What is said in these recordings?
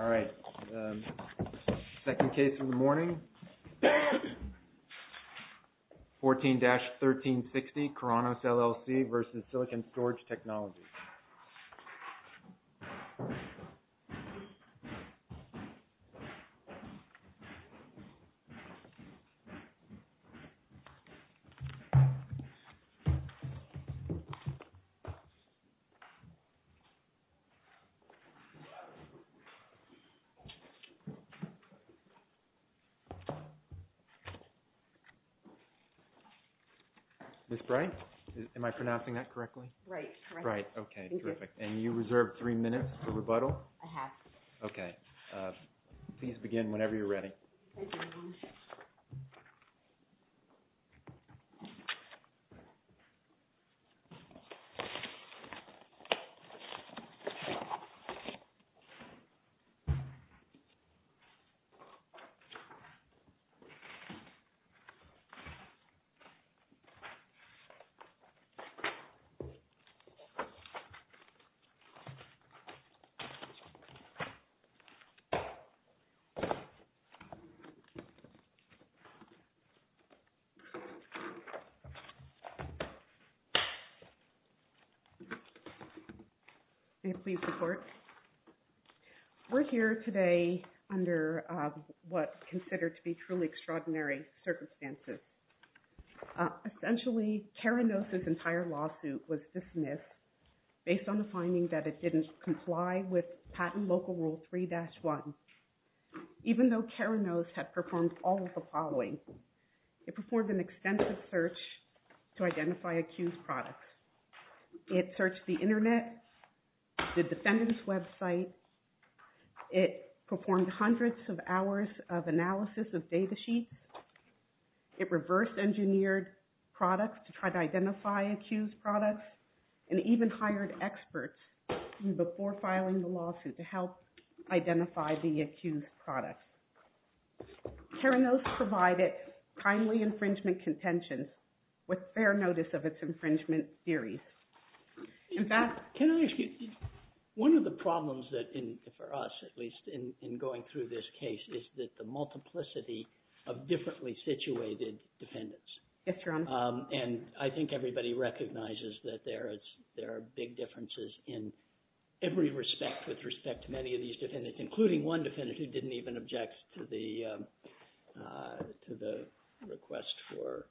All right, second case of the morning, 14-1360, Keranos, LLC v. Silicon Storage Technology. Ms. Bright, am I pronouncing that correctly? Right, correct. Right, okay, terrific. And you reserve three minutes for rebuttal? I have. Okay. All right. Please begin whenever you're ready. We're here today under what's considered to be truly extraordinary circumstances. Essentially, Keranos' entire lawsuit was dismissed based on the finding that it didn't comply with Patent Local Rule 3-1. Even though Keranos had performed all of the following, it performed an extensive search to identify accused products. It searched the internet, the defendant's website. It performed hundreds of hours of analysis of data sheets. It reversed engineered products to try to identify accused products, and even hired experts before filing the lawsuit to help identify the accused products. Keranos provided timely infringement contention with fair notice of its infringement theories. In fact... Can I ask you, one of the problems for us, at least, in going through this case, is that the multiplicity of differently situated defendants. Yes, Your Honor. And I think everybody recognizes that there are big differences in every respect with respect to many of these defendants, including one defendant who didn't even object to the request for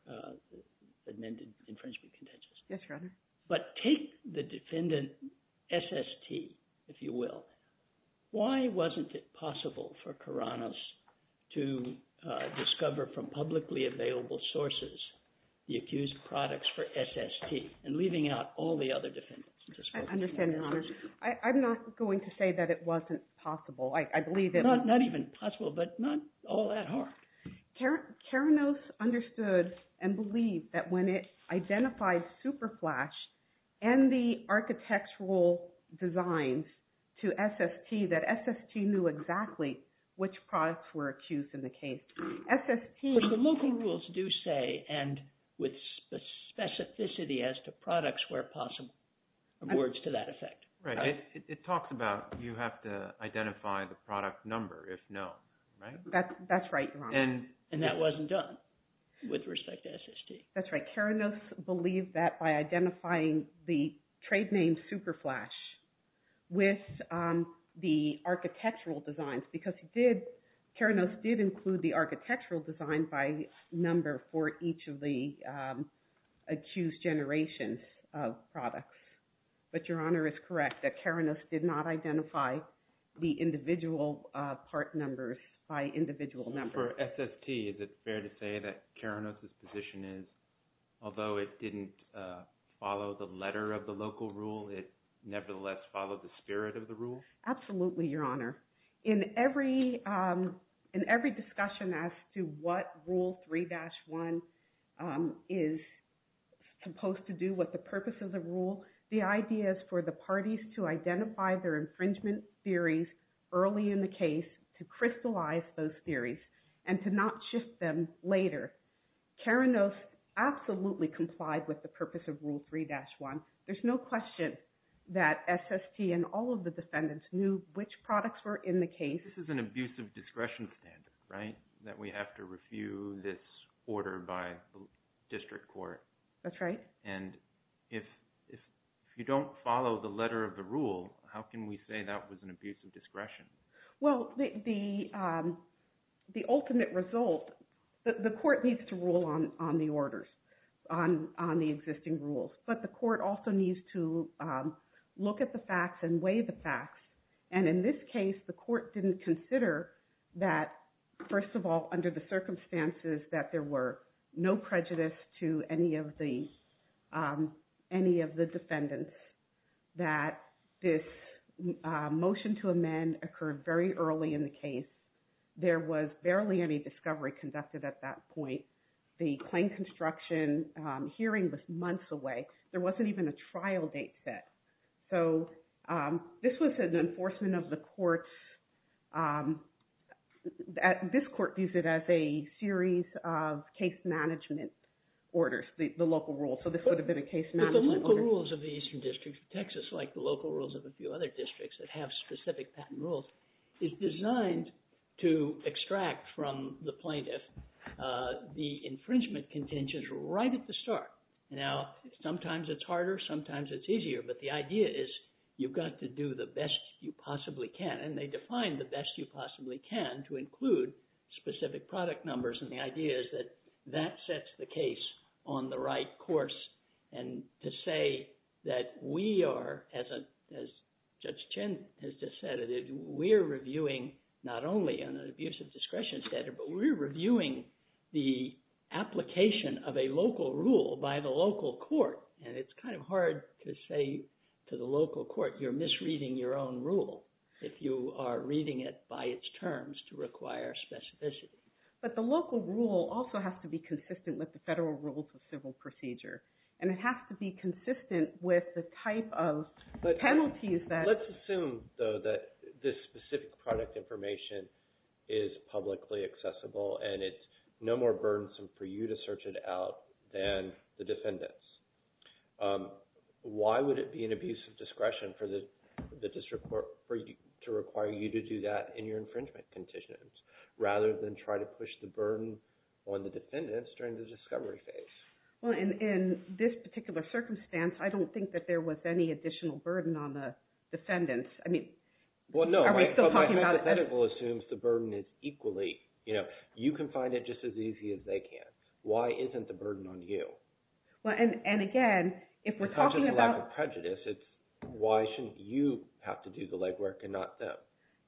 amended infringement contentions. Yes, Your Honor. But take the defendant SST, if you will. Why wasn't it possible for Keranos to discover from publicly available sources the accused products for SST, and leaving out all the other defendants? I understand, Your Honor. I'm not going to say that it wasn't possible. I believe that... Not even possible, but not all that hard. Keranos understood and believed that when it identified SuperFlash and the architectural whole designs to SST, that SST knew exactly which products were accused in the case. SST... But the local rules do say, and with specificity as to products where possible, in other words, to that effect. Right. It talks about you have to identify the product number if known, right? That's right, Your Honor. And that wasn't done with respect to SST. That's right. But Keranos believed that by identifying the trade name SuperFlash with the architectural designs, because Keranos did include the architectural design by number for each of the accused generations of products. But Your Honor is correct that Keranos did not identify the individual part numbers by individual numbers. So for SST, is it fair to say that Keranos' position is, although it didn't follow the letter of the local rule, it nevertheless followed the spirit of the rule? Absolutely, Your Honor. In every discussion as to what Rule 3-1 is supposed to do, what the purpose of the rule, the idea is for the parties to identify their infringement theories early in the case to crystallize those theories and to not shift them later. Keranos absolutely complied with the purpose of Rule 3-1. There's no question that SST and all of the defendants knew which products were in the case. This is an abuse of discretion standard, right? That we have to refute this order by the district court. That's right. And if you don't follow the letter of the rule, how can we say that was an abuse of discretion? Well, the ultimate result, the court needs to rule on the orders, on the existing rules. But the court also needs to look at the facts and weigh the facts. And in this case, the court didn't consider that, first of all, under the circumstances that there were no prejudice to any of the defendants, that this motion to amend occurred very early in the case. There was barely any discovery conducted at that point. The claim construction hearing was months away. There wasn't even a trial date set. So this was an enforcement of the court's, this court views it as a series of case management orders, the local rules. So this would have been a case management order. But the local rules of the Eastern District of Texas, like the local rules of a few other districts that have specific patent rules, is designed to extract from the plaintiff the infringement contentions right at the start. Now, sometimes it's harder, sometimes it's easier. But the idea is you've got to do the best you possibly can. And they define the best you possibly can to include specific product numbers. And the idea is that that sets the case on the right course. And to say that we are, as Judge Chin has just said, we're reviewing not only an abuse of discretion standard, but we're reviewing the application of a local rule by the local court. And it's kind of hard to say to the local court, you're misreading your own rule, if you are reading it by its terms to require specificity. But the local rule also has to be consistent with the federal rules of civil procedure. And it has to be consistent with the type of penalties that... is publicly accessible and it's no more burdensome for you to search it out than the defendants. Why would it be an abuse of discretion for the district court to require you to do that in your infringement conditions, rather than try to push the burden on the defendants during the discovery phase? Well, in this particular circumstance, I don't think that there was any additional burden on the defendants. I mean, are we still talking about it? The hypothetical assumes the burden is equally... You can find it just as easy as they can. Why isn't the burden on you? And again, if we're talking about... Because there's a lack of prejudice, it's why shouldn't you have to do the legwork and not them?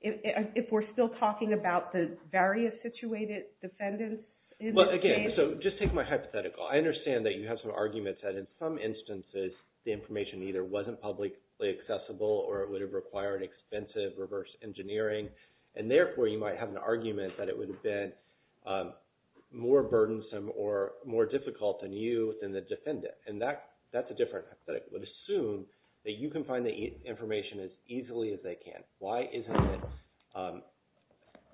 If we're still talking about the various situated defendants in the case... Well, again, so just take my hypothetical. I understand that you have some arguments that in some instances, the information either wasn't publicly accessible or it would have required expensive reverse engineering. And therefore, you might have an argument that it would have been more burdensome or more difficult on you than the defendant. And that's a different hypothetical. Assume that you can find the information as easily as they can. Why isn't it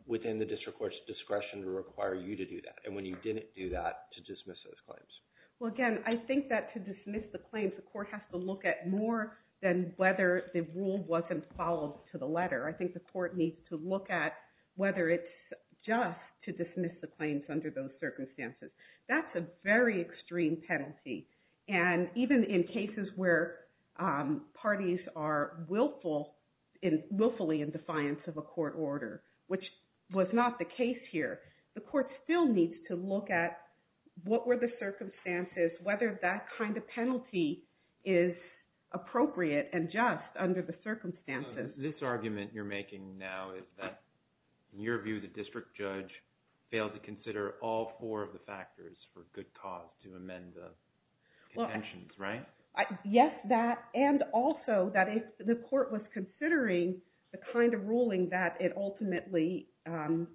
within the district court's discretion to require you to do that, and when you didn't do that, to dismiss those claims? Well, again, I think that to dismiss the claims, the court has to look at more than whether the rule wasn't followed to the letter. I think the court needs to look at whether it's just to dismiss the claims under those circumstances. That's a very extreme penalty. And even in cases where parties are willfully in defiance of a court order, which was not the case here, the court still needs to look at what were the circumstances, whether that kind of penalty is appropriate and just under the circumstances. This argument you're making now is that, in your view, the district judge failed to consider all four of the factors for good cause to amend the contentions, right? Yes, that. And also, that if the court was considering the kind of ruling that it ultimately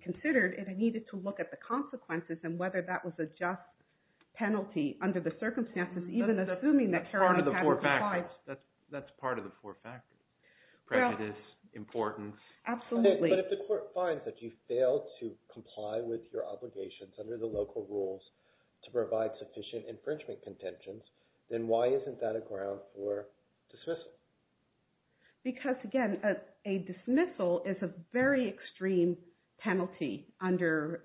considered, it needed to look at the consequences and whether that was a just penalty under the circumstances, even assuming that Caroline had defied. That's part of the four factors, prejudice, importance. Absolutely. But if the court finds that you failed to comply with your obligations under the local rules to provide sufficient infringement contentions, then why isn't that a ground for dismissal? Because again, a dismissal is a very extreme penalty under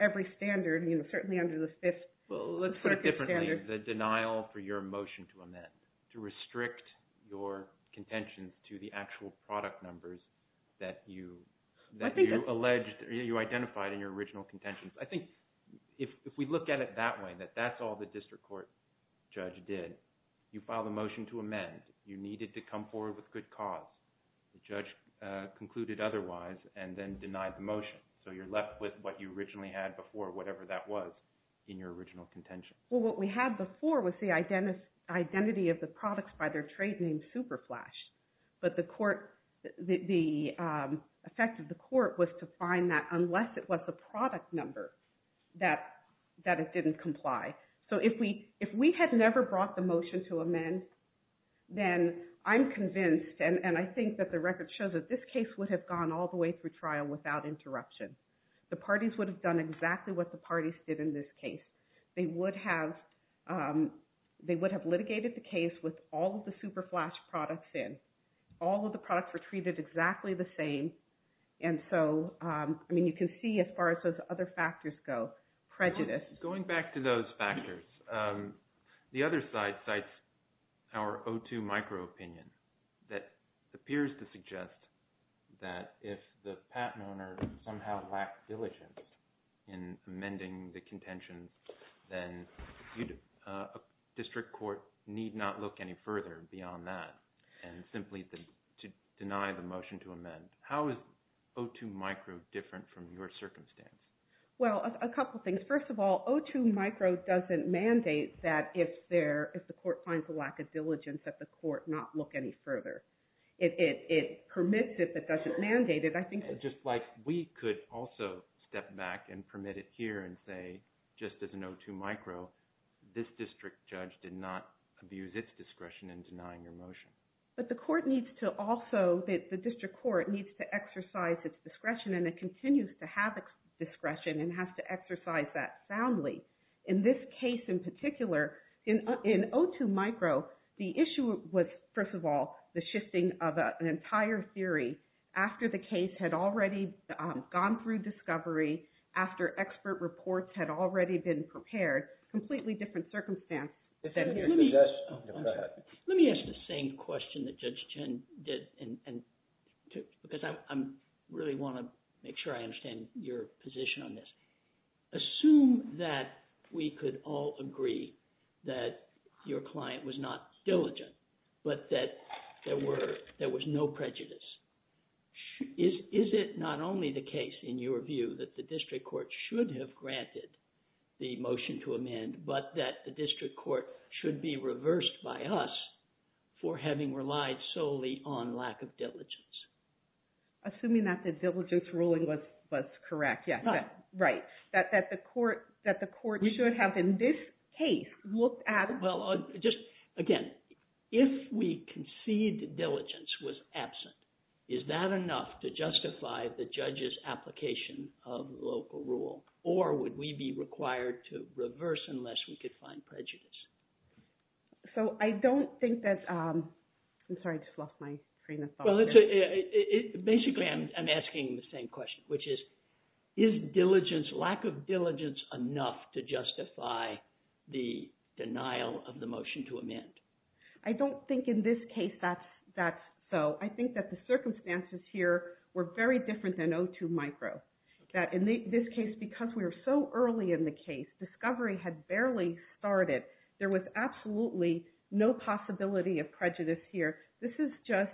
every standard, certainly under the Fifth Circuit standard. Let's put it differently, the denial for your motion to amend, to restrict your contentions to the actual product numbers that you identified in your original contentions. I think if we look at it that way, that that's all the district court judge did. You filed a motion to amend, you needed to come forward with good cause, the judge concluded otherwise and then denied the motion, so you're left with what you originally had before, whatever that was, in your original contention. Well, what we had before was the identity of the products by their trade name, Superflash. But the effect of the court was to find that unless it was a product number, that it didn't comply. So if we had never brought the motion to amend, then I'm convinced, and I think that the record shows that this case would have gone all the way through trial without interruption. The parties would have done exactly what the parties did in this case. They would have litigated the case with all of the Superflash products in. All of the products were treated exactly the same. And so, I mean, you can see as far as those other factors go, prejudice. Going back to those factors, the other side cites our O2 micro-opinion that appears to be the case, then a district court need not look any further beyond that, and simply to deny the motion to amend. How is O2 micro different from your circumstance? Well, a couple things. First of all, O2 micro doesn't mandate that if the court finds a lack of diligence, that the court not look any further. It permits it, but doesn't mandate it. Just like we could also step back and permit it here and say, just as an O2 micro, this district judge did not abuse its discretion in denying your motion. But the court needs to also, the district court needs to exercise its discretion, and it continues to have its discretion and has to exercise that soundly. In this case in particular, in O2 micro, the issue was, first of all, the shifting of an entire theory after the case had already gone through discovery, after expert reports had already been prepared, completely different circumstance than here. Let me ask the same question that Judge Chen did, because I really want to make sure I understand your position on this. Assume that we could all agree that your client was not diligent, but that there was no prejudice. Is it not only the case, in your view, that the district court should have granted the motion to amend, but that the district court should be reversed by us for having relied solely on lack of diligence? Assuming that the diligence ruling was correct, yeah. Right. That the court should have, in this case, looked at... Again, if we concede that diligence was absent, is that enough to justify the judge's application of local rule? Or would we be required to reverse unless we could find prejudice? So I don't think that's... I'm sorry, I just lost my train of thought. Basically, I'm asking the same question, which is, is lack of diligence enough to justify the denial of the motion to amend? I don't think, in this case, that's so. I think that the circumstances here were very different than O2 micro, that in this case, because we were so early in the case, discovery had barely started. There was absolutely no possibility of prejudice here. This is just,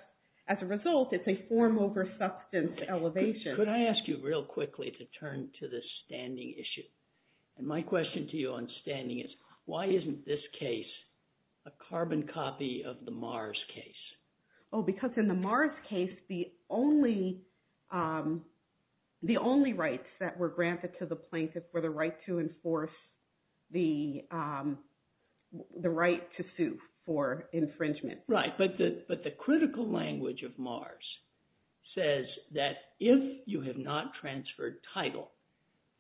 as a result, it's a form over substance elevation. Could I ask you, real quickly, to turn to the standing issue? My question to you on standing is, why isn't this case a carbon copy of the Mars case? Oh, because in the Mars case, the only rights that were granted to the plaintiff were the right to enforce the right to sue for infringement. Right. But the critical language of Mars says that if you have not transferred title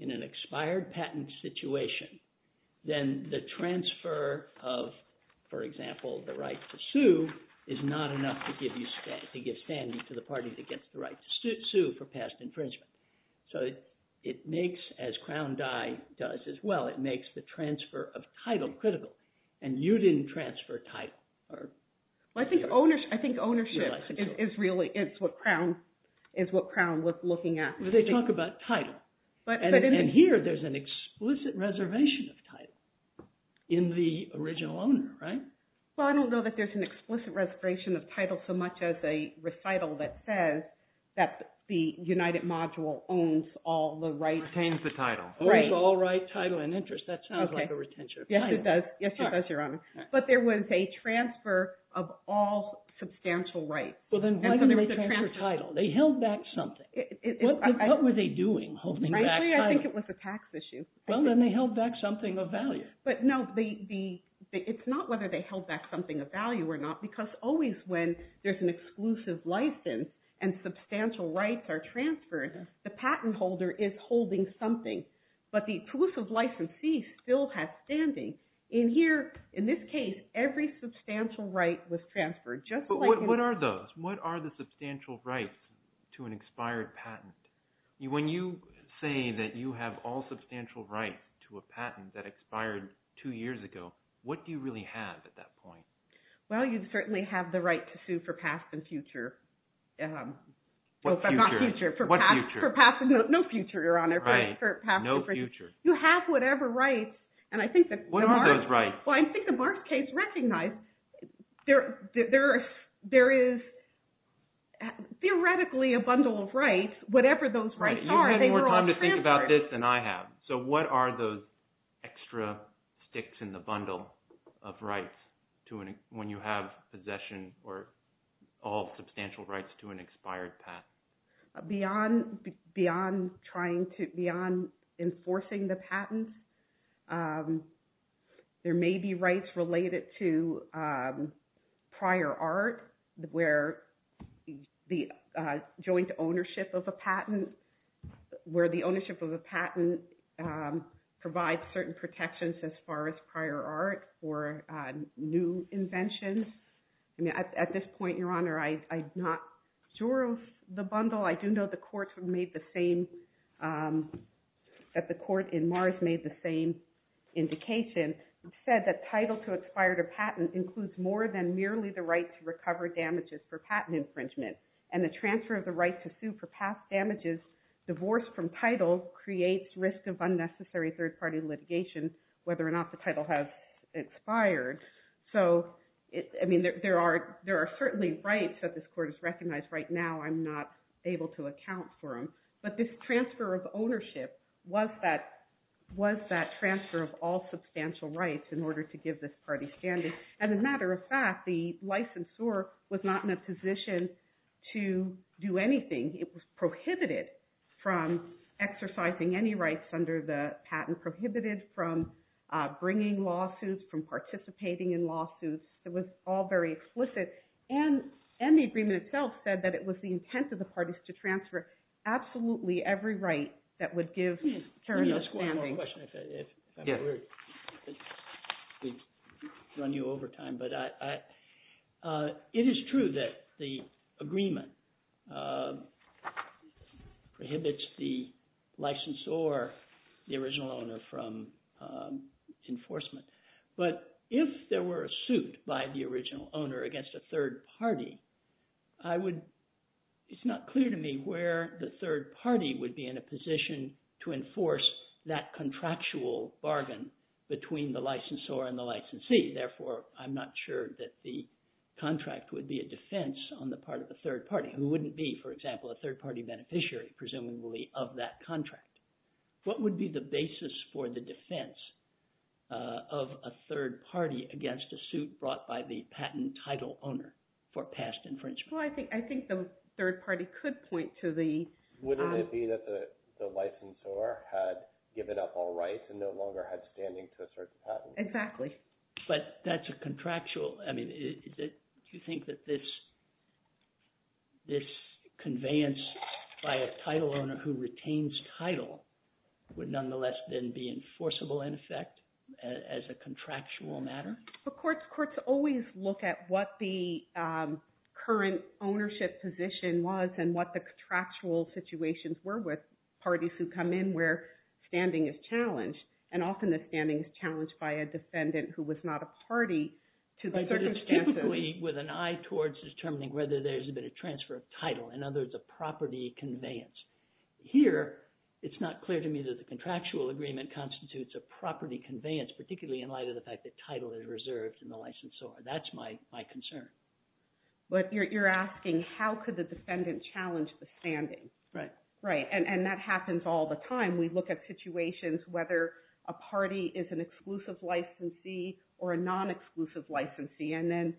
in an expired patent situation, then the transfer of, for example, the right to sue is not enough to give standing to the party that gets the right to sue for past infringement. So it makes, as Crown Dye does as well, it makes the transfer of title critical. And you didn't transfer title. Well, I think ownership is really what Crown was looking at. They talk about title, and here there's an explicit reservation of title in the original owner, right? Well, I don't know that there's an explicit reservation of title so much as a recital that says that the United Module owns all the rights. Retains the title. Owns all rights, title, and interests. That sounds like a retention of title. Yes, it does. Yes, it does, Your Honor. But there was a transfer of all substantial rights. Well, then why didn't they transfer title? They held back something. What were they doing, holding back title? Frankly, I think it was a tax issue. Well, then they held back something of value. But no, it's not whether they held back something of value or not, because always when there's an exclusive license and substantial rights are transferred, the patent holder is holding something. But the exclusive licensee still has standing. In here, in this case, every substantial right was transferred. But what are those? What are the substantial rights to an expired patent? When you say that you have all substantial rights to a patent that expired two years ago, what do you really have at that point? Well, you certainly have the right to sue for past and future. What future? Not future. What future? No future, Your Honor. Right. No future. You have whatever rights. And I think that- What are those rights? Well, I think the Barks case recognized there is theoretically a bundle of rights. Whatever those rights are, they were all transferred. Right. You had more time to think about this than I have. So what are those extra sticks in the bundle of rights when you have possession or all substantial rights to an expired patent? Beyond enforcing the patent, there may be rights related to prior art where the joint ownership of a patent provides certain protections as far as prior art or new inventions. At this point, Your Honor, I'm not sure of the bundle. I do know the court in Mars made the same indication. It said that title to expired a patent includes more than merely the right to recover damages for patent infringement. And the transfer of the right to sue for past damages divorced from title creates risk of unnecessary third-party litigation whether or not the title has expired. So, I mean, there are certainly rights that this court has recognized. Right now, I'm not able to account for them. But this transfer of ownership was that transfer of all substantial rights in order to give this party standing. As a matter of fact, the licensor was not in a position to do anything. It was prohibited from exercising any rights under the patent, prohibited from bringing lawsuits, from participating in lawsuits. It was all very explicit. And the agreement itself said that it was the intent of the parties to transfer absolutely every right that would give Karen a standing. Let me ask one more question if I may. We've run you over time. But it is true that the agreement prohibits the licensor, the original owner, from enforcement. But if there were a suit by the original owner against a third party, it's not clear to me where the third party would be in a position to enforce that contractual bargain between the licensor and the licensee. Therefore, I'm not sure that the contract would be a defense on the part of the third party, who wouldn't be, for example, a third party beneficiary, presumably, of that contract. What would be the basis for the defense of a third party against a suit brought by the patent title owner for past infringement? Well, I think the third party could point to the… Wouldn't it be that the licensor had given up all rights and no longer had standing to assert the patent? Exactly. But that's a contractual… I mean, do you think that this conveyance by a title owner who retains title would nonetheless then be enforceable, in effect, as a contractual matter? But courts always look at what the current ownership position was and what the contractual agreement constitutes, and often the standing is challenged by a defendant who was not a party to the circumstances. But it's typically with an eye towards determining whether there's been a transfer of title, in other words, a property conveyance. Here, it's not clear to me that the contractual agreement constitutes a property conveyance, particularly in light of the fact that title is reserved in the licensor. That's my concern. But you're asking how could the defendant challenge the standing. Right. Right. And that happens all the time. And we look at situations whether a party is an exclusive licensee or a non-exclusive licensee, and then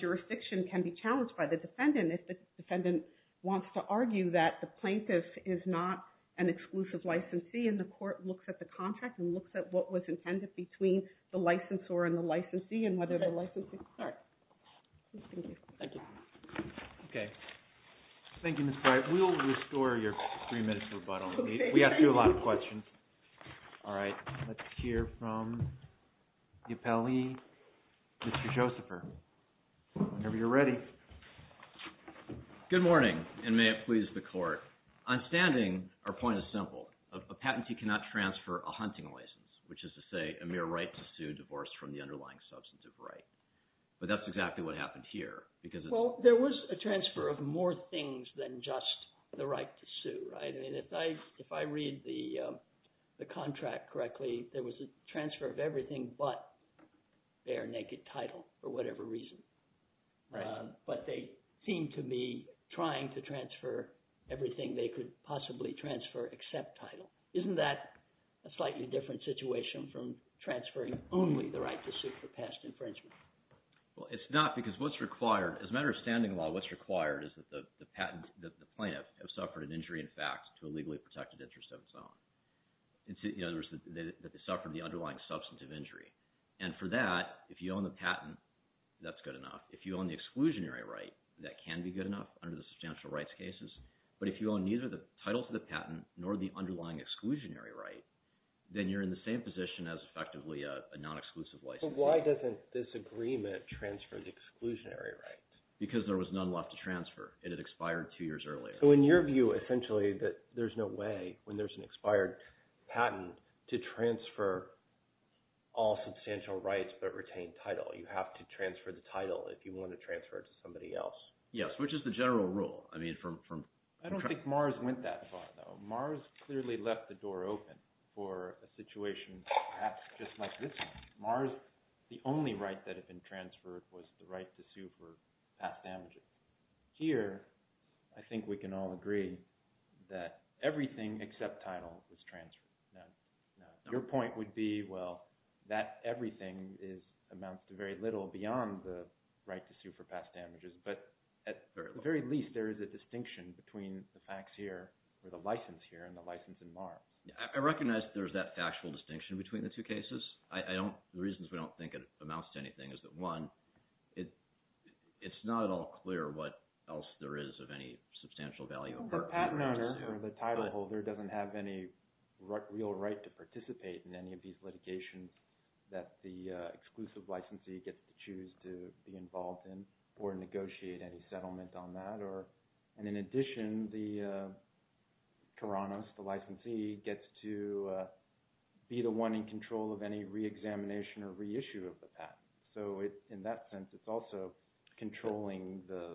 jurisdiction can be challenged by the defendant if the defendant wants to argue that the plaintiff is not an exclusive licensee, and the court looks at the contract and looks at what was intended between the licensor and the licensee and whether the licensee could… Okay. Thank you. Thank you. Okay. Thank you, Ms. Breyer. All right. We'll restore your three-minute rebuttal. Okay. We have a lot of questions. All right. Let's hear from the appellee, Mr. Josepher, whenever you're ready. Good morning, and may it please the Court. On standing, our point is simple. A patentee cannot transfer a hunting license, which is to say a mere right to sue a divorce from the underlying substantive right. But that's exactly what happened here because… Well, there was a transfer of more things than just the right to sue, right? I mean, if I read the contract correctly, there was a transfer of everything but bare naked title for whatever reason. Right. But they seem to be trying to transfer everything they could possibly transfer except title. Isn't that a slightly different situation from transferring only the right to sue for past infringement? Well, it's not because what's required… As a matter of standing law, what's required is that the plaintiff have suffered an injury in fact to a legally protected interest of its own. In other words, that they suffered the underlying substantive injury. And for that, if you own the patent, that's good enough. If you own the exclusionary right, that can be good enough under the substantial rights cases. But if you own neither the title to the patent nor the underlying exclusionary right, then you're in the same position as effectively a non-exclusive license. So why doesn't this agreement transfer the exclusionary rights? Because there was none left to transfer. It had expired two years earlier. So in your view, essentially, that there's no way when there's an expired patent to transfer all substantial rights but retain title. You have to transfer the title if you want to transfer it to somebody else. Yes, which is the general rule. I mean, from… I don't think Mars went that far, though. Mars clearly left the door open for a situation perhaps just like this one. Mars, the only right that had been transferred was the right to sue for past damages. Here, I think we can all agree that everything except title was transferred. Your point would be, well, that everything amounts to very little beyond the right to sue for past damages. But at the very least, there is a distinction between the facts here or the license here and the license in Mars. I recognize there's that factual distinction between the two cases. The reasons we don't think it amounts to anything is that, one, it's not at all clear what else there is of any substantial value. The patent owner or the title holder doesn't have any real right to participate in any of these litigations that the exclusive licensee gets to choose to be involved in or negotiate any settlement on that. And in addition, the Taranis, the licensee, gets to be the one in control of any reexamination or reissue of the patent. So in that sense, it's also controlling the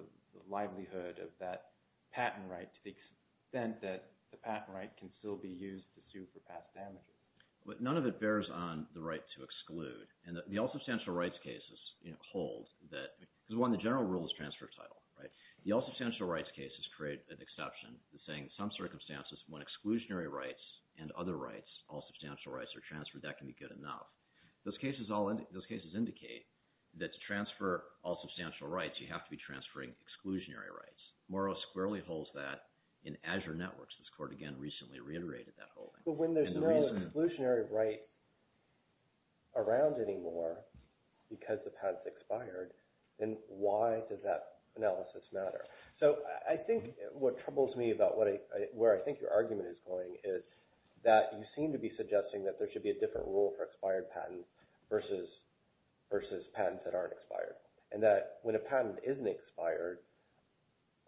livelihood of that patent right to the extent that the patent right can still be used to sue for past damages. But none of it bears on the right to exclude. And the all substantial rights cases hold that… Because, one, the general rule is transfer of title, right? The all substantial rights cases create an exception saying in some circumstances when exclusionary rights and other rights, all substantial rights, are transferred, that can be good enough. Those cases indicate that to transfer all substantial rights, you have to be transferring exclusionary rights. Morrow squarely holds that in Azure Networks. This court, again, recently reiterated that holding. But when there's no exclusionary right around anymore because the patent's expired, then why does that analysis matter? So I think what troubles me about where I think your argument is going is that you seem to be suggesting that there should be a different rule for expired patents versus patents that aren't expired. And that when a patent isn't expired,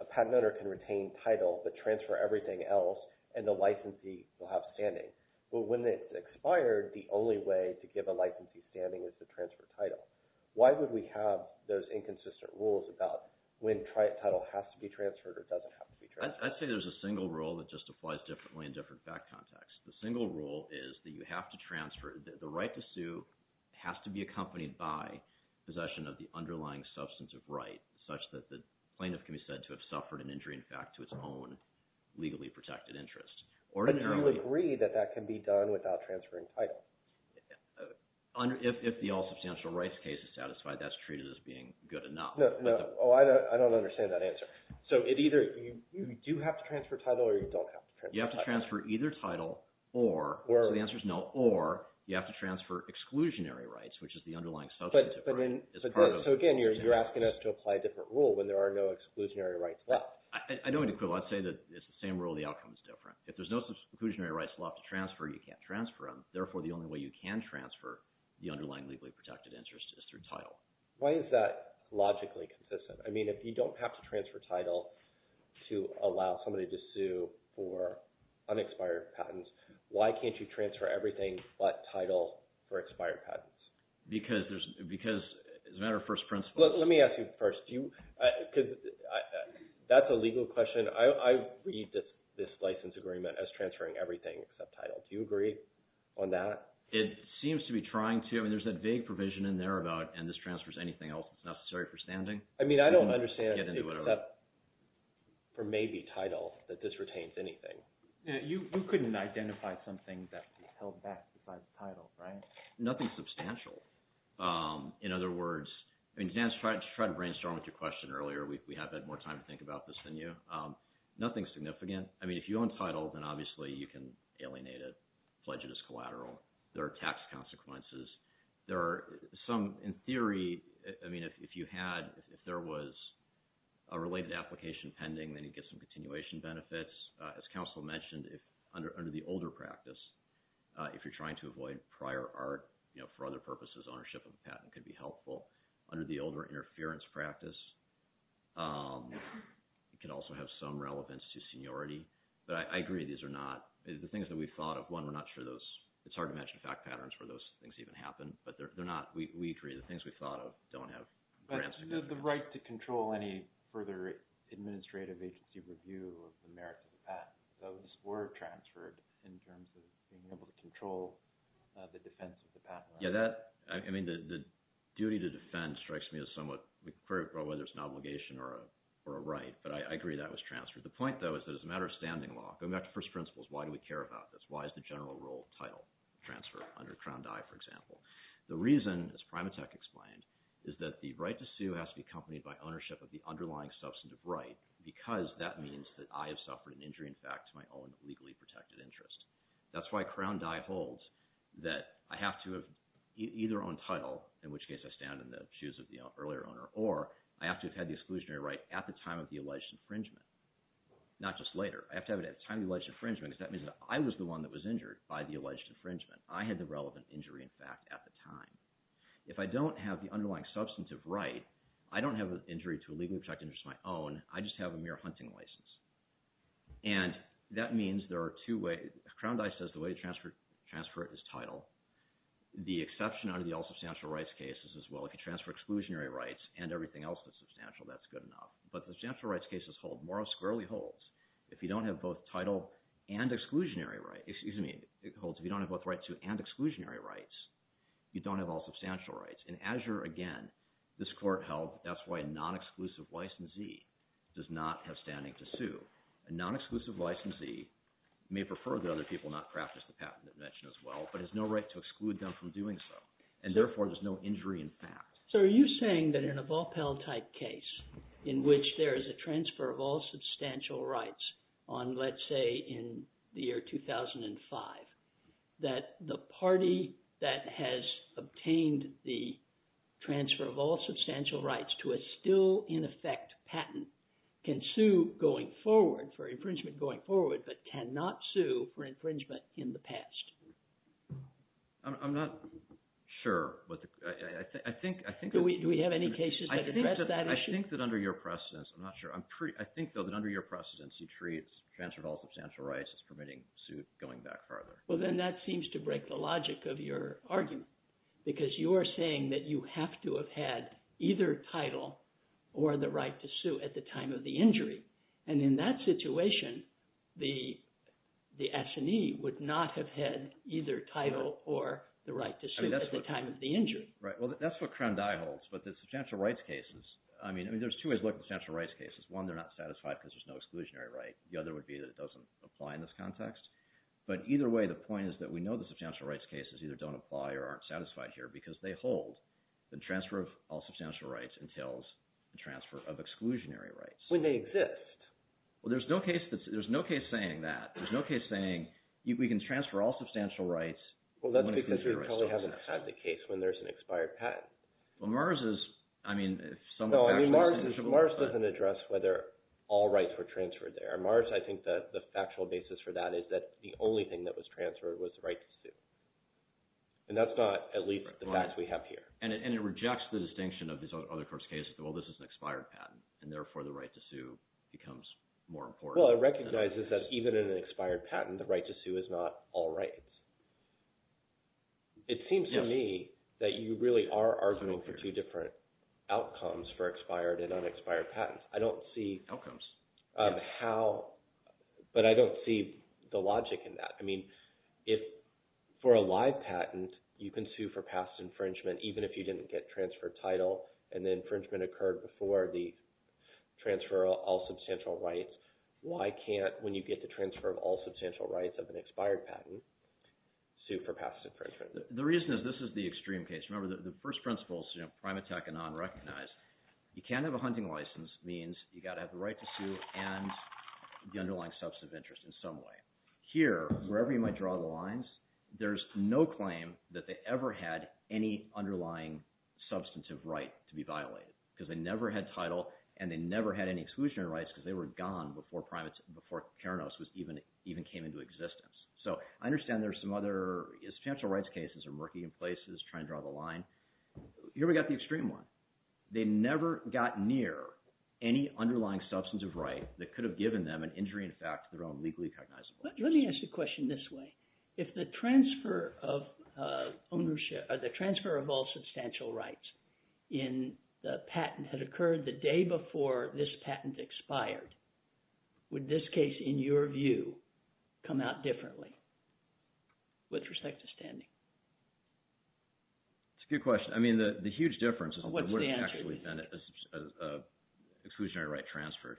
a patent owner can retain title but transfer everything else and the licensee will have standing. But when it's expired, the only way to give a licensee standing is to transfer title. Why would we have those inconsistent rules about when title has to be transferred or doesn't have to be transferred? I'd say there's a single rule that just applies differently in different fact contexts. The single rule is that you have to transfer, the right to sue has to be accompanied by possession of the underlying substantive right such that the plaintiff can be said to have suffered an injury in fact to its own legally protected interest. But you agree that that can be done without transferring title? If the all substantial rights case is satisfied, that's treated as being good enough. No, I don't understand that answer. So it either, you do have to transfer title or you don't have to transfer title? You have to transfer either title or, so the answer is no, or you have to transfer exclusionary rights, which is the underlying substantive right. So again, you're asking us to apply a different rule when there are no exclusionary rights left. I don't mean to quibble. I'd say that it's the same rule, the outcome is different. If there's no exclusionary rights left to transfer, you can't transfer them. Therefore, the only way you can transfer the underlying legally protected interest is through title. Why is that logically consistent? I mean, if you don't have to transfer title to allow somebody to sue for unexpired patents, why can't you transfer everything but title for expired patents? Because, as a matter of first principle. Let me ask you first, that's a legal question. I read this license agreement as transferring everything except title. Do you agree on that? It seems to be trying to. I mean, there's that vague provision in there about, and this transfers anything else that's necessary for standing. I mean, I don't understand. Get into whatever. For maybe title, that this retains anything. You couldn't identify something that's held back besides title, right? Nothing substantial. In other words, I mean, Dan, just try to brainstorm with your question earlier. We have had more time to think about this than you. Nothing significant. I mean, if you own title, then obviously you can alienate it, pledge it as collateral. There are tax consequences. There are some, in theory, I mean, if you had, if there was a related application pending then you'd get some continuation benefits. As counsel mentioned, under the older practice, if you're trying to avoid prior art, for other purposes, ownership of the patent could be helpful. Under the older interference practice, it could also have some relevance to seniority. But I agree, these are not, the things that we've thought of, one, we're not sure those, it's hard to imagine fact patterns where those things even happen. But they're not, we agree, the things we've thought of don't have. But the right to control any further administrative agency review of the merits of the patent, those were transferred in terms of being able to control the defense of the patent. Yeah, that, I mean, the duty to defend strikes me as somewhat, whether it's an obligation or a right, but I agree that was transferred. The point, though, is that it's a matter of standing law. Going back to first principles, why do we care about this? Why is the general rule of title transfer under Crown Dye, for example? The reason, as Primatech explained, is that the right to sue has to be accompanied by ownership of the underlying substantive right because that means that I have suffered an injury in fact to my own legally protected interest. That's why Crown Dye holds that I have to have either own title, in which case I stand in the shoes of the earlier owner, or I have to have had the exclusionary right at the time of the alleged infringement, not just later. I have to have it at the time of the alleged infringement because that means that I was the one that was injured by the alleged infringement. I had the relevant injury in fact at the time. If I don't have the underlying substantive right, I don't have an injury to a legally protected interest of my own, I just have a mere hunting license. And that means there are two ways. Crown Dye says the way to transfer it is title. The exception under the all-substantial rights case is, well, if you transfer exclusionary rights and everything else that's substantial, that's good enough. But the substantial rights cases hold. Morrow squarely holds. If you don't have both title and exclusionary rights, excuse me, it holds. If you don't have both right to and exclusionary rights, you don't have all-substantial rights. In Azure, again, this court held that's why a non-exclusive licensee does not have standing to sue. A non-exclusive licensee may prefer that other people not practice the patent that's mentioned as well, but has no right to exclude them from doing so. And therefore, there's no injury in fact. So are you saying that in a ball-pell type case in which there is a transfer of all substantial rights on let's say in the year 2005, that the party that has obtained the transfer of all substantial rights to a still in effect patent can sue going forward for infringement going forward, but cannot sue for infringement in the past? I'm not sure. Do we have any cases that address that issue? I think that under your precedence, I'm not sure, I think though that under your precedence you treat transfer of all substantial rights as permitting suit going back farther. Well then that seems to break the logic of your argument because you are saying that you have to have had either title or the right to sue at the time of the injury. And in that situation, the attorney would not have had either title or the right to sue at the time of the injury. Right, well that's what Crown Dye holds, but the substantial rights cases, I mean there's two ways to look at substantial rights cases. One, they're not satisfied because there's no exclusionary right. The other would be that it doesn't apply in this context. But either way, the point is that we know the substantial rights cases either don't apply or aren't satisfied here because they hold the transfer of all substantial rights entails the transfer of exclusionary rights. When they exist. Well there's no case saying that. There's no case saying we can transfer all substantial rights when an exclusionary right still exists. Well that's because you probably haven't had the case when there's an expired patent. Well Mars is, I mean, No, I mean Mars doesn't address whether all rights were transferred there. Mars, I think the factual basis for that is that the only thing that was transferred was the right to sue. And that's not at least the facts we have here. And it rejects the distinction of these other courts' cases that well this is an expired patent and therefore the right to sue becomes more important. Well it recognizes that even in an expired patent the right to sue is not all rights. It seems to me that you really are arguing for two different outcomes for expired and unexpired patents. Outcomes? But I don't see the logic in that. I mean, if for a live patent you can sue for past infringement even if you didn't get transfer title and the infringement occurred before the transfer of all substantial rights why can't when you get the transfer of all substantial rights of an expired patent sue for past infringement? The reason is this is the extreme case. Remember the first principle is prime attack and non-recognize. You can't have a hunting license means you've got to have the right to sue and the underlying substantive interest in some way. Here, wherever you might draw the lines there's no claim that they ever had any underlying substantive right to be violated because they never had title and they never had any exclusionary rights because they were gone before Paranoz even came into existence. So I understand there's some other substantial rights cases or murky in places trying to draw the line. Here we've got the extreme one. They never got near any underlying substantive right that could have given them an injury in fact to their own legally recognizable rights. Let me ask the question this way. If the transfer of ownership or the transfer of all substantial rights in the patent had occurred the day before this patent expired would this case in your view come out differently with respect to standing? It's a good question. I mean the huge difference is exclusionary right transferred.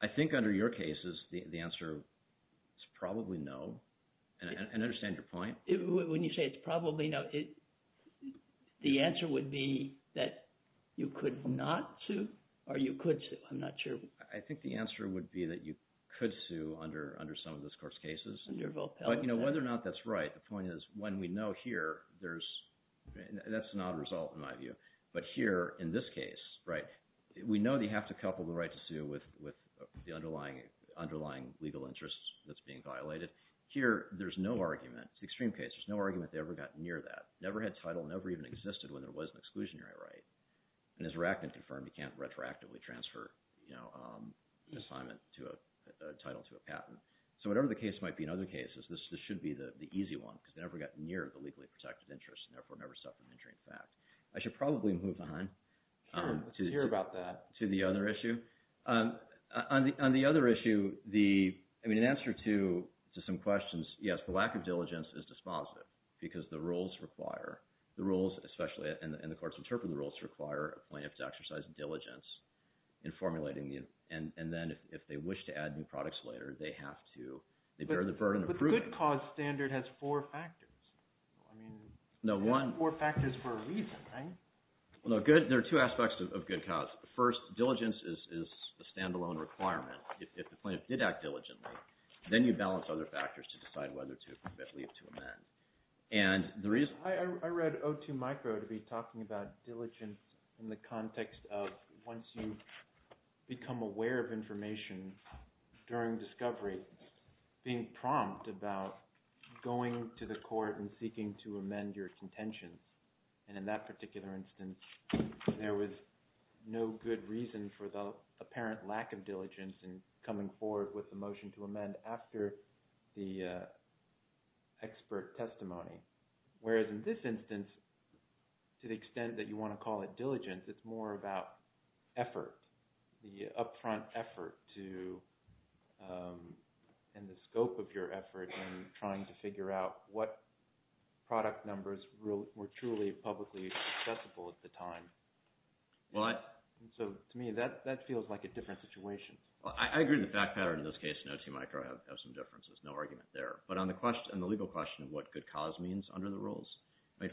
I think under your cases the answer is probably no and I understand your point. When you say it's probably no the answer would be that you could not sue or you could sue. I'm not sure. I think the answer would be that you could sue under some of those court cases but whether or not that's right the point is when we know here that's not a result in my view but here in this case we know that you have to couple the right to sue with the underlying legal interest that's being violated here there's no argument it's an extreme case, there's no argument that they ever got near that never had title, never even existed when there was an exclusionary right and as Rackman confirmed you can't retroactively transfer an assignment to a title to a patent so whatever the case might be in other cases because they never got near the legally protected interest and therefore never suffered an injury in fact. I should probably move on sure, let's hear about that to the other issue on the other issue the answer to some questions yes the lack of diligence is dispositive because the rules require the rules especially and the courts interpret the rules require a plaintiff to exercise diligence in formulating and then if they wish to add new products later they have to they bear the burden of proving but the good cause standard has four factors I mean four factors for a reason there are two aspects of good cause first diligence is a stand alone requirement if the plaintiff did act diligently then you balance other factors to decide whether to leave to amend I read O2 micro to be talking about diligence in the context of once you become aware of information during discovery being prompt about going to the court and seeking to amend your contention and in that particular instance there was no good reason for the apparent lack of diligence in coming forward with a motion to amend after the expert testimony whereas in this instance to the extent that you want to call it diligence it's more about effort the upfront effort to and the scope of your effort in trying to figure out what product numbers were truly publicly accessible at the time so to me that feels like a different situation I agree with the fact pattern in this case in O2 micro I have some differences, no argument there but on the legal question of what good cause means under the rules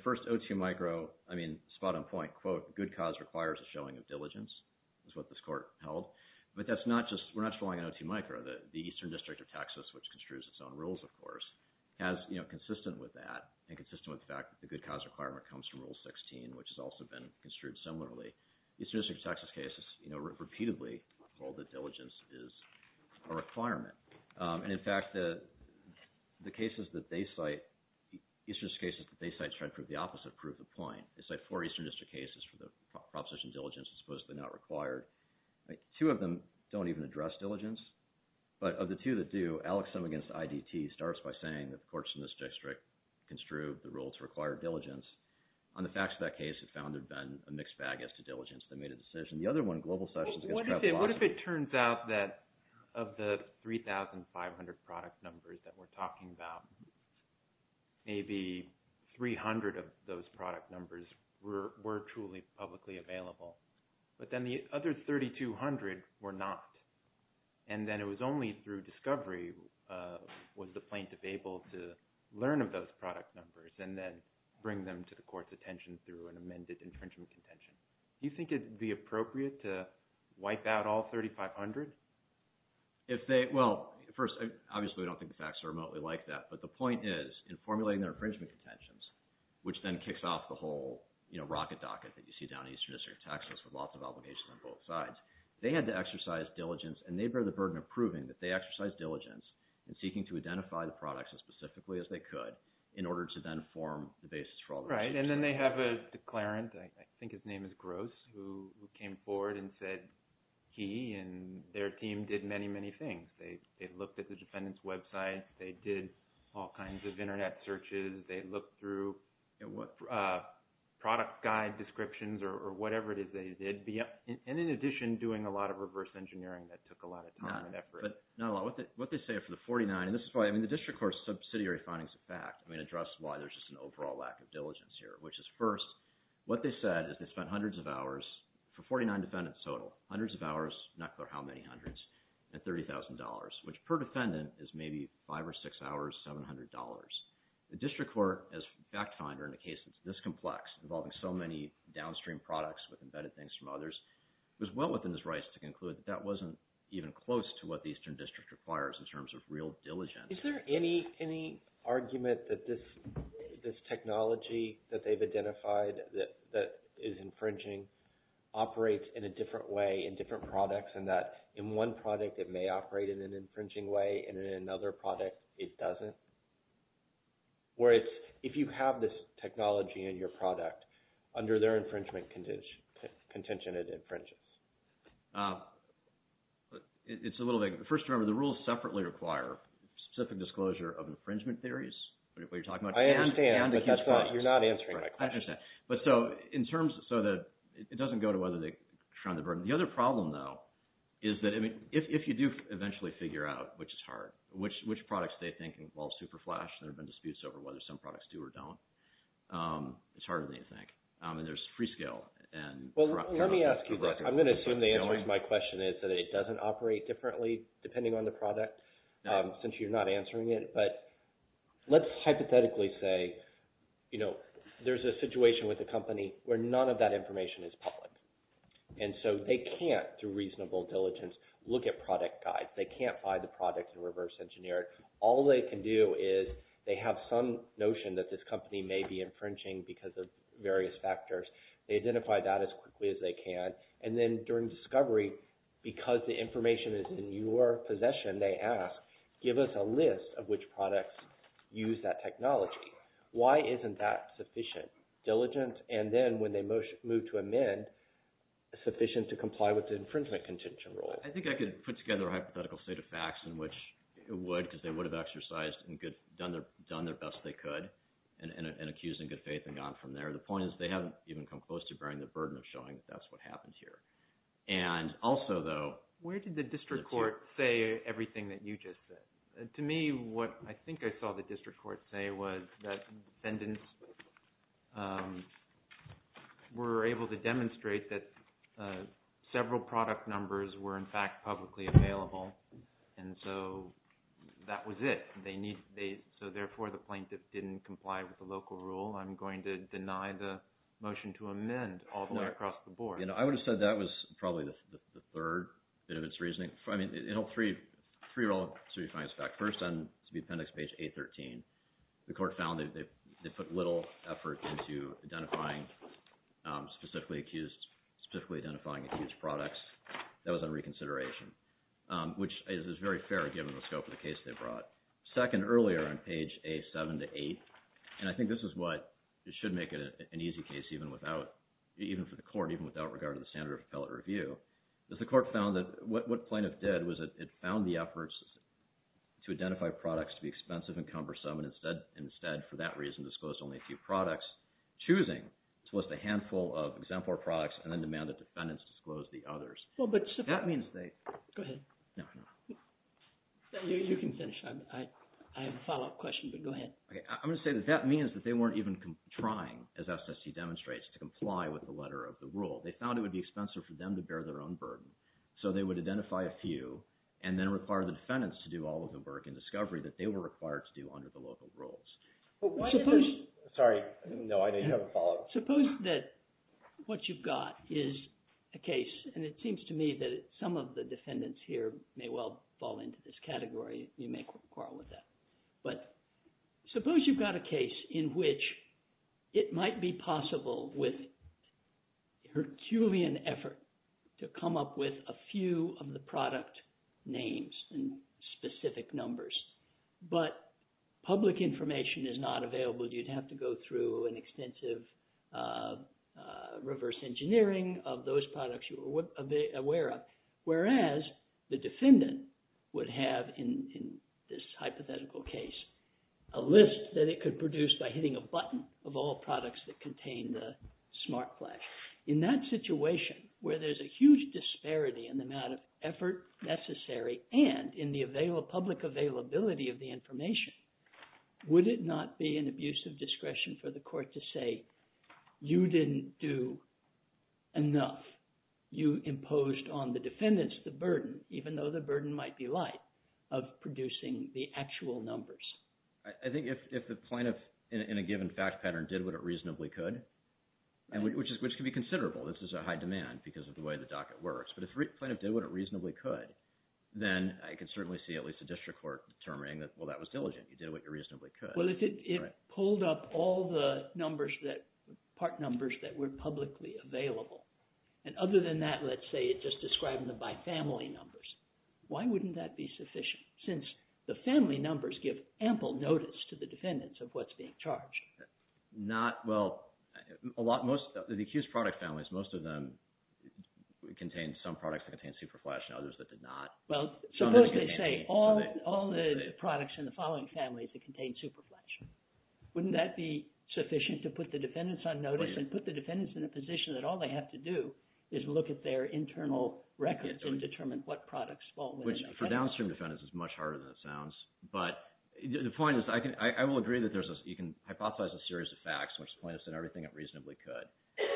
first O2 micro, I mean spot on point quote good cause requires a showing of diligence is what this court held but that's not just, we're not following an O2 micro the Eastern District of Texas which construes its own rules of course has, you know, consistent with that and consistent with the fact that the good cause requirement comes from rule 16 which has also been construed similarly Eastern District of Texas cases repeatedly hold that diligence is a requirement and in fact the cases that they cite Eastern District cases that they cite trying to prove the opposite prove the point. They cite four Eastern District cases for the proposition of diligence which is supposedly not required two of them don't even address diligence but of the two that do Alex Summigan's IDT starts by saying that the courts in this district construed the rule to require diligence on the facts of that case it found there had been a mixed bag as to diligence that made a decision the other one, Global Sessions against Travis Boston what if it turns out that of the 3,500 product numbers that we're talking about maybe 300 of those product numbers were truly publicly available but then the other 3,200 were not and then it was only through discovery was the plaintiff able to learn of those product numbers and then bring them to the court's attention through an amended infringement contention. Do you think it would be appropriate to wipe out all 3,500? Well, first, obviously we don't think the facts are remotely like that but the point is in formulating their infringement contentions which then kicks off the whole rocket docket that you see down in Eastern District of Texas with lots of obligations on both sides they had to exercise diligence and they bear the burden of proving that they exercise diligence and seeking to identify the products as specifically as they could in order to then form the basis for all the... Right, and then they have a declarant I think his name is Gross who came forward and said he and their team did many, many things they looked at the defendant's website they did all kinds of product guide descriptions or whatever it is they did and in addition doing a lot of reverse engineering that took a lot of time and effort. Not a lot, what they say for the 49, and this is why, I mean the District Court subsidiary findings of fact, I mean address why there's just an overall lack of diligence here which is first, what they said is they spent hundreds of hours for 49 defendants total, hundreds of hours, not clear how many hundreds, at $30,000 which per defendant is maybe five or six hours, $700 The District Court, as fact finder in a case this complex involving so many downstream products with embedded things from others was well within its rights to conclude that wasn't even close to what the Eastern District requires in terms of real diligence. Is there any argument that this technology that they've identified that is infringing operates in a different way in different products and that in one product it may operate in an infringing way and in another product it doesn't? Or it's if you have this technology in your product, under their infringement contention it infringes? It's a little vague. First, remember the rules separately require specific disclosure of infringement theories what you're talking about. I understand, but that's not you're not answering my question. I understand. In terms, so that it doesn't go to whether they shun the burden. The other problem though, is that if you do eventually figure out, which is hard which products they think involve super flash, there have been disputes over whether some products do or don't, it's harder than you think. And there's Freescale Well, let me ask you this I'm going to assume the answer to my question is that it doesn't operate differently depending on the product, since you're not answering it, but let's hypothetically say there's a situation with a company where none of that information is public and so they can't through reasonable diligence look at product guides. They can't find the product and reverse engineer it. All they can do is they have some notion that this company may be infringing because of various factors they identify that as quickly as they can and then during discovery because the information is in your possession they ask, give us a list of which products use that technology. Why isn't that sufficient? Diligent and then when they move to amend sufficient to comply with the infringement contention rule. I think I could put together a hypothetical set of facts in which it would because they would have exercised and done their best they could and accused in good faith and gone from there the point is they haven't even come close to bearing the burden of showing that's what happened here and also though Where did the district court say everything that you just said? To me what I think I saw the district court say was that defendants were able to demonstrate that several product numbers were in fact publicly available and so that was it. So therefore the plaintiff didn't comply with the local rule. I'm going to deny the motion to amend all the way across the board. I would have said that was probably the third bit of its reasoning. I mean it held three real serious facts. First on appendix page 813 the court found that they put little effort into identifying specifically accused specifically identifying accused products that was under reconsideration which is very fair given the scope of the case they brought. Second earlier on page A7-8 and I think this is what should make it an easy case even without even for the court even without regard to the standard of appellate review. The court found that what plaintiff did was it found the efforts to identify products to be expensive and cumbersome and instead for that reason disclosed only a few products choosing to list a handful of exemplar products and then demand that defendants disclose the others. That means they Go ahead. You can finish. I have a follow up question but go ahead. I'm going to say that that means that they weren't even trying as SST demonstrates to comply with the letter of the rule. They found it would be expensive for them to bear their own burden so they would identify a few and then require the defendants to do all of the work in discovery that they were required to do under the local rules. Sorry, no I know you have a follow up. Suppose that what you've got is a case and it seems to me that some of the defendants here may well fall into this category you may quarrel with that but suppose you've got a case in which it might be possible with herculean effort to come up with a few of the product names and specific numbers but public information is not available. You'd have to go through an extensive reverse engineering of those products you were aware of whereas the defendant would have in this hypothetical case a list that it could produce by hitting a button of all products that contain the smart flag. In that situation where there's a huge disparity in the amount of effort necessary and in the public availability of the information would it not be an abuse of discretion for the court to say you didn't do enough. You imposed on the defendants the burden even though the burden might be light of producing the actual numbers. I think if the plaintiff in a given fact pattern did what it reasonably could which can be considerable. This is a high demand because of the way the docket works but if the plaintiff did what it reasonably could then I can certainly see at least a district court determining that well that was diligent. You did what you reasonably could. Well if it pulled up all the numbers that part numbers that were publicly available and other than that let's say it's just describing the by family numbers why wouldn't that be sufficient since the family numbers give ample notice to the defendants of what's being charged. Well the accused product families most of them contain some products that contain superflash and others that did not. Well suppose they say all the products in the following families that contain superflash wouldn't that be sufficient to put the defendants on notice and put the defendants in a position that all they have to do is look at their internal records and determine what products fall within which for downstream defendants is much harder than it sounds but the point is I will agree that you can hypothesize a series of facts in which the plaintiffs did everything it reasonably could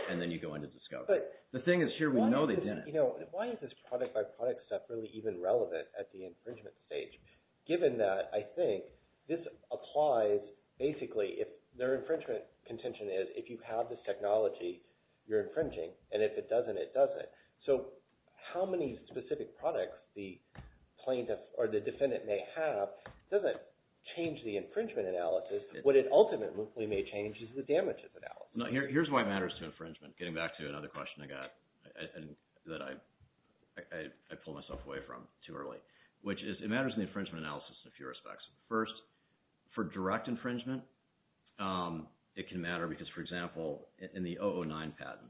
and then you go into discovery. The thing is here we know they didn't. Why is this product by product stuff really even relevant at the infringement stage given that I think this applies basically if their infringement contention is if you have this technology you're infringing and if it doesn't it doesn't. So how many specific products the plaintiff or the defendant may have doesn't change the infringement analysis. What it ultimately may change is the damages analysis. Here's why it matters to infringement getting back to another question I got that I pulled myself away from too early which is it matters in the infringement analysis in a few respects. First for direct infringement it can matter because for example in the 009 patent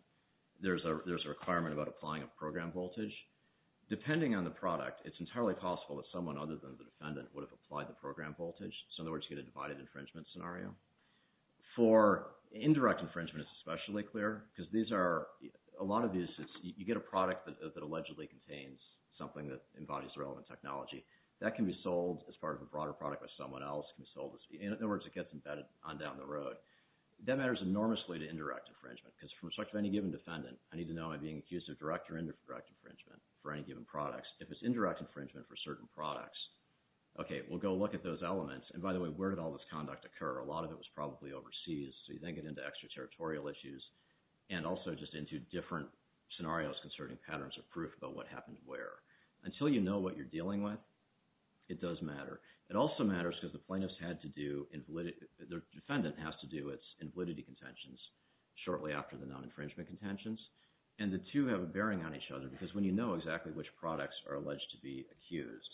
there's a requirement about applying a program voltage depending on the product it's entirely possible that someone other than the defendant would have applied the program voltage. So in other words you get a divided infringement scenario. For indirect infringement it's especially clear because these are a lot of these you get a product that allegedly contains something that embodies the relevant technology. That can be sold as part of a broader product but someone else can sell this. In other words it gets embedded on down the road. That matters enormously to indirect infringement because from the perspective of any given defendant I need to know am I being accused of direct or indirect infringement for any given products. If it's indirect infringement for certain products okay we'll go look at those elements and by the way where did all this conduct occur? A lot of it was probably overseas so you then get into extra territorial issues and also just into different scenarios concerning patterns of proof about what happened where. Until you know what you're dealing with it does matter. It also matters because the plaintiff's had to do the defendant has to do its invalidity contentions shortly after the non-infringement contentions and the two have a bearing on each other because when you know exactly which products are alleged to be accused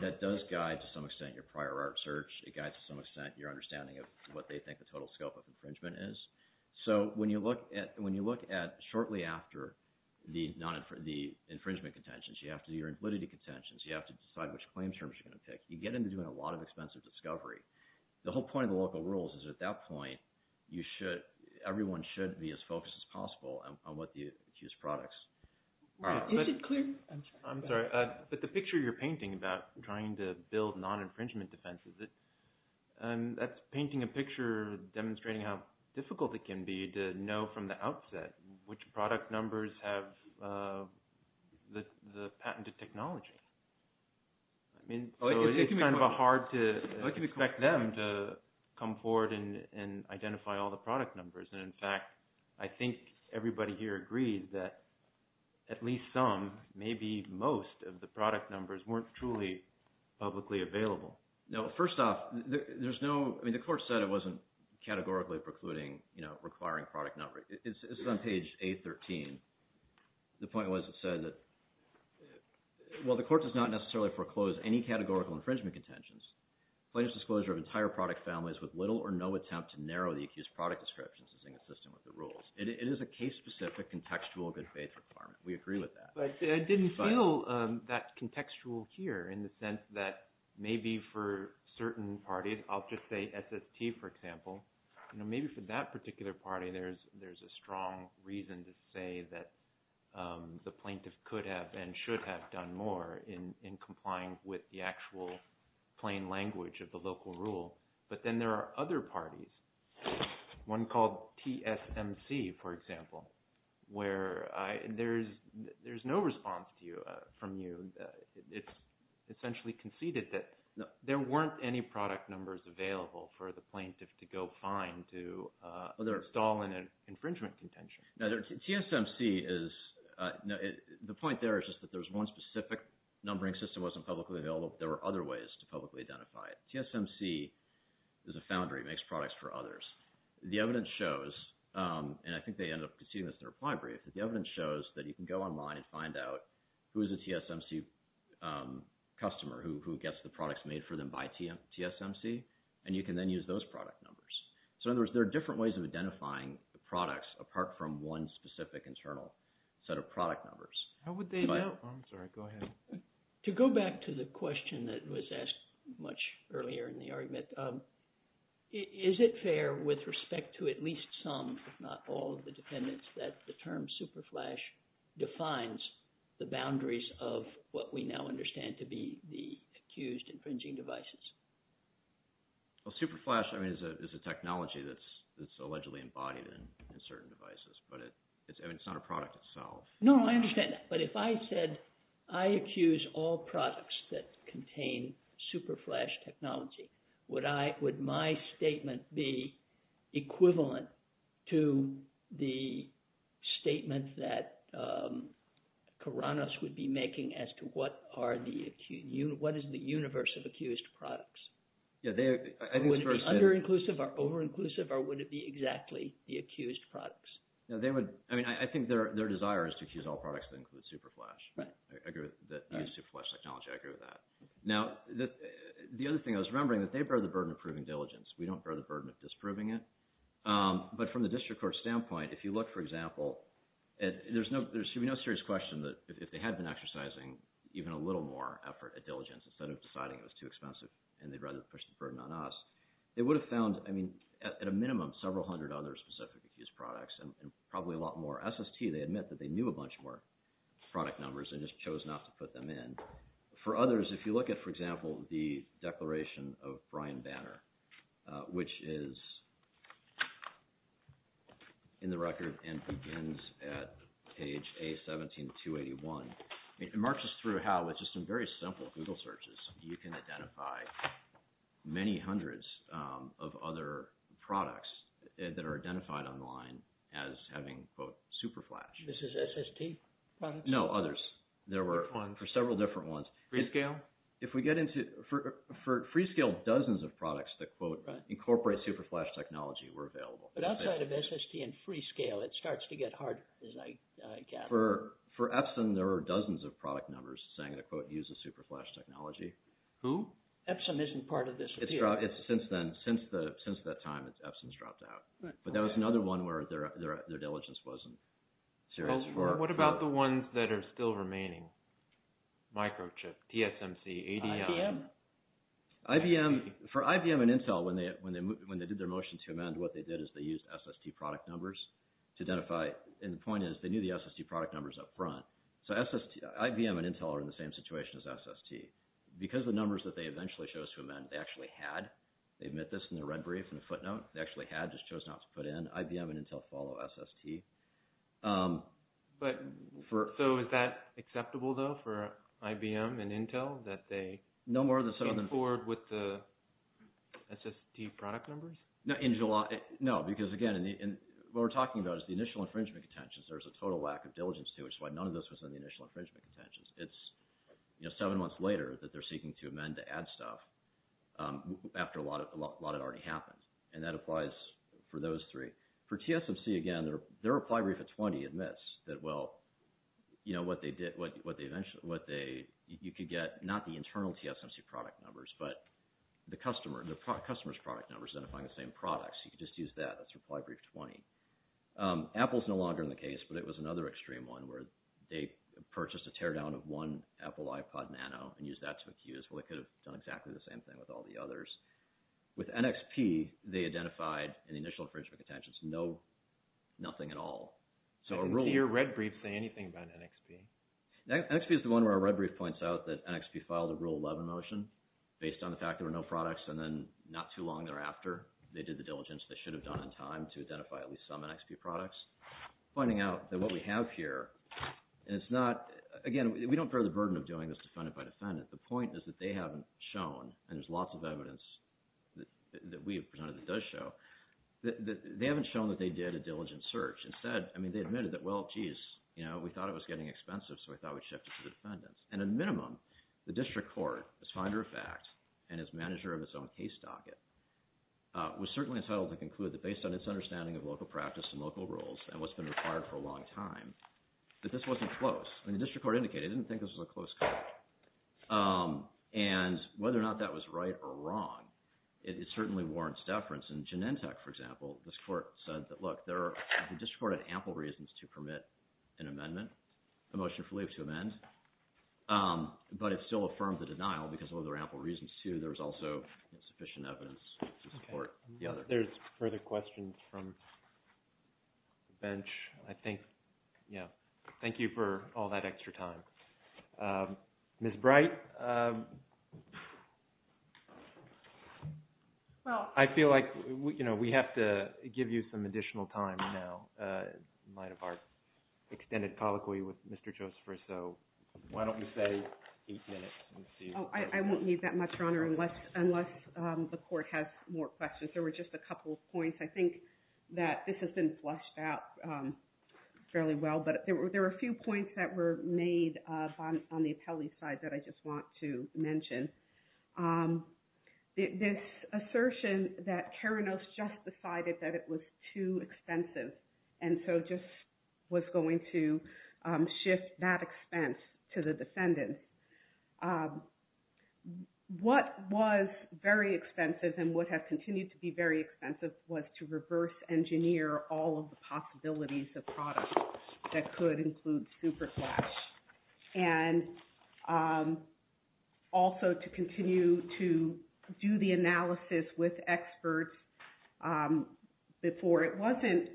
that does guide to some extent your prior art search. It guides to some extent your understanding of what they think the total scope of infringement is. So when you look at shortly after the infringement contentions you have to do your invalidity contentions you have to decide which claim terms you're going to pick. You get into doing a lot of expensive discovery. The whole point of the local rules is at that point you should everyone should be as focused as possible on what the accused products are. I'm sorry but the picture you're painting about trying to build non-infringement defenses that's painting a picture demonstrating how difficult it can be to know from the outset which product numbers have the patented technology. I mean it's kind of hard to expect them to come forward and identify all the product numbers and in fact I think everybody here agrees that at least some maybe most of the product numbers weren't truly publicly available. No first off there's no I mean the court said it wasn't categorically precluding you know requiring product number. It's on page 813. The point was it said that well the court does not necessarily foreclose any categorical infringement contentions. Plain disclosure of entire product families with little or no attempt to narrow the accused product descriptions is inconsistent with the rules. It is a case specific contextual good faith requirement. We agree with that. I didn't feel that contextual here in the sense that maybe for certain parties I'll just say SST for example you know maybe for that particular party there's a strong reason to say that the plaintiff could have and should have done more in complying with the actual plain language of the local rule but then there are other parties one called TSMC for example where there's no response to you from you. It's essentially conceded that there weren't any product numbers available for the plaintiff to go find to stall an infringement contention. TSMC is the point there is just that there's one specific numbering system wasn't publicly available there were other ways to publicly identify it. TSMC is a foundry makes products for others. The evidence shows and I think they ended up conceding this in a reply brief that the evidence shows that you can go online and find out who is a TSMC customer who gets the products made for them by TSMC and you can then use those product numbers. So in other words there are different ways of identifying the products apart from one specific internal set of product numbers. How would they know? To go back to the question that was asked much earlier in the argument is it fair with respect to at least some if not all of the dependents that the term superflash defines the boundaries of what we now understand to be the accused infringing devices? Superflash is a technology that's allegedly embodied in certain devices but it's not a product itself. No, I understand but if I said I accuse all products that contain superflash technology would my statement be equivalent to the statement that Kouranos would be making as to what are the what is the universe of accused products? Would it be under-inclusive or over-inclusive or would it be exactly the accused products? I think their desire is to accuse all products that include superflash. I agree with that. The other thing I was remembering that they bear the burden of proving diligence. We don't bear the burden of disproving it but from the district court standpoint if you look for example there should be no serious question that if they had been exercising even a little more effort at diligence instead of deciding it was too expensive and they'd rather push the burden on us they would have found at a minimum several hundred other specific accused products and probably a lot more SST. They admit that they knew a bunch more product numbers and just chose not to put them in. For others, if you look at for example the declaration of Brian Banner which is in the record and begins at page A17281 it marks us through how with just some very simple Google searches you can identify many hundreds of other products that are identified online as having quote superflash. This is SST products? No, others. There were several different ones. Freescale? For Freescale dozens of products that quote incorporate superflash technology were available. But outside of SST and Freescale it starts to get harder as I gather. For Epson there were dozens of product numbers saying the quote uses superflash technology. Who? Epson isn't part of this. Since that time Epson's dropped out. But that was another one where their diligence wasn't serious. What about the ones that are still remaining? Microchip, TSMC, ADM? IBM? For IBM and Intel when they did their motion to amend what they did is they used SST product numbers to identify and the point is they knew the SST product numbers up front. So IBM and Intel are in the same situation as SST. Because the numbers that they eventually chose to amend they actually had. They admit this in their red brief and footnote. They actually had just chose not to put in IBM and Intel follow SST. So is that acceptable though for IBM and Intel that they came forward with the SST product numbers? No, because again what we're talking about is the initial infringement contentions. There's a total lack of diligence to which is why none of this was in the initial infringement contentions. It's, you know, seven months later that they're seeking to amend to add stuff after a lot had already happened. And that applies for those three. For TSMC again their reply brief at 20 admits that well, you know, what they eventually, you could get not the internal TSMC product numbers but the customer's product numbers identifying the same products. You could just use that. That's reply brief 20. Apple's no longer in the case, but it was another extreme one where they purchased a teardown of one Apple iPod Nano and used that to accuse. Well, they could have done exactly the same thing with all the others. With NXP, they identified in the initial infringement contentions nothing at all. Did your red brief say anything about NXP? NXP is the one where our red brief points out that NXP filed a rule 11 motion based on the fact there were no products and then not too long thereafter they did the diligence they should have done in time to identify at least some NXP products finding out that what we have here and it's not, again we don't bear the burden of doing this defendant by defendant the point is that they haven't shown and there's lots of evidence that we have presented that does show that they haven't shown that they did a diligent search. Instead, I mean, they admitted that well, geez, you know, we thought it was getting expensive so we thought we'd shift it to the defendants. And at a minimum, the district court as finder of fact and as manager of its own case docket was certainly entitled to conclude that based on its understanding of local practice and local rules and what's been required for a long time that this wasn't close. I mean, the district court indicated it didn't think this was a close call. And whether or not that was right or wrong it certainly warrants deference. In Genentech for example, this court said that look the district court had ample reasons to permit an amendment a motion for leave to amend but it still affirmed the denial because there were ample reasons to. There was also sufficient evidence to support the other. There's further questions from the bench. I think, yeah. Thank you for all that extra time. Ms. Bright, I feel like, you know, we have to give you some additional time now in light of our extended colloquy with Mr. Joseph so why don't we say eight minutes. I won't need that much, Your Honor unless the court has more questions. There were just a couple of points. I think that this has been flushed out fairly well but there were a few points that were made on the appellee side that I just want to mention. This assertion that Keranos just decided that it was too expensive and so just was going to shift that expense to the defendant. What was very expensive and what has continued to be very expensive was to reverse engineer all of the possibilities of products that could include Superflash and also to continue to do the analysis with experts before. It wasn't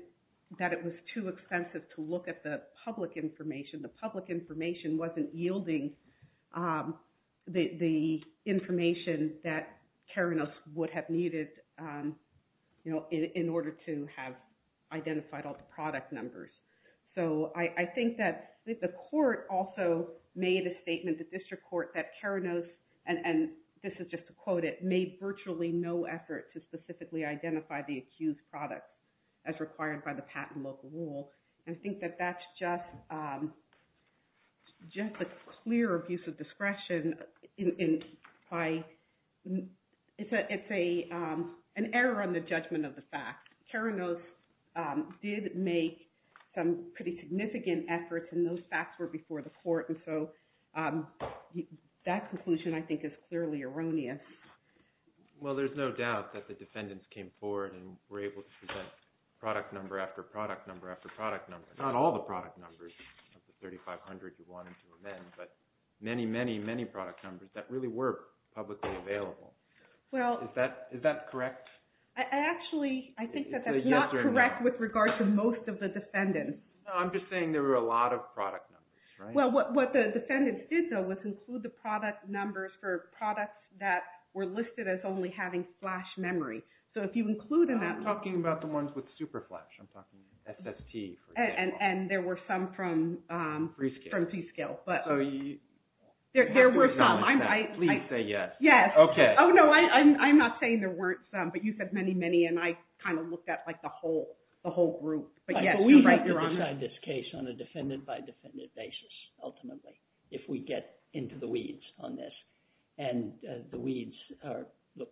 that it was too expensive to look at the public information wasn't yielding the information that Keranos would have needed in order to have identified all the product numbers. I think that the court also made a statement to district court that Keranos, and this is just to quote it, made virtually no effort to specifically identify the accused product as required by the patent local rule. I think that that's just a clear abuse of discretion. It's an error on the judgment of the fact. Keranos did make some pretty significant efforts and those facts were before the court. That conclusion I think is clearly erroneous. Well, there's no doubt that the defendants came forward and were able to present product number after product number after product number. Not all the product numbers of the 3500 you wanted to amend, but many, many, many product numbers that really were publicly available. Is that correct? Actually, I think that that's not correct with regard to most of the defendants. I'm just saying there were a lot of product numbers. Well, what the defendants did though was include the product numbers for products that were listed as only having flash memory. So if you include in that I'm talking about the ones with super flash. I'm talking SST. And there were some from C-Skill. There were some. Please say yes. I'm not saying there weren't some, but you said many, many and I kind of looked at the whole group. We have to decide this case on a defendant if we get into the weeds on this. And the weeds are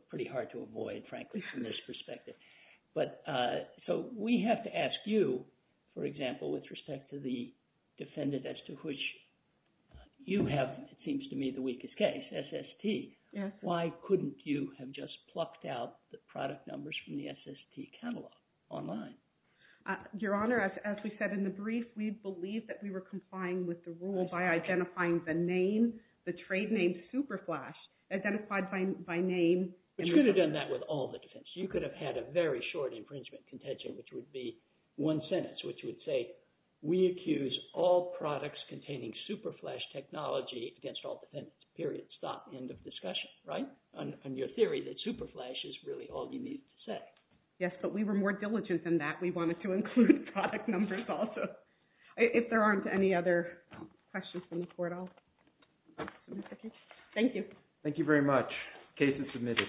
pretty hard to avoid frankly from this perspective. So we have to ask you, for example, with respect to the defendant as to which you have, it seems to me, the weakest case, SST. Why couldn't you have just plucked out the product numbers from the SST catalog online? Your Honor, as we said in the brief, we believed that we were complying with the rule by identifying the name, the trade name super flash identified by name. You could have done that with all the defense. You could have had a very short infringement contention, which would be one sentence, which would say we accuse all products containing super flash technology against all defendants, period, stop, end of discussion, right? On your theory that super flash is really all you need to say. Yes, but we were more diligent than that. We wanted to include product numbers also. If there aren't any other questions from the Court, I'll submit the case. Thank you. Thank you very much. Case is submitted.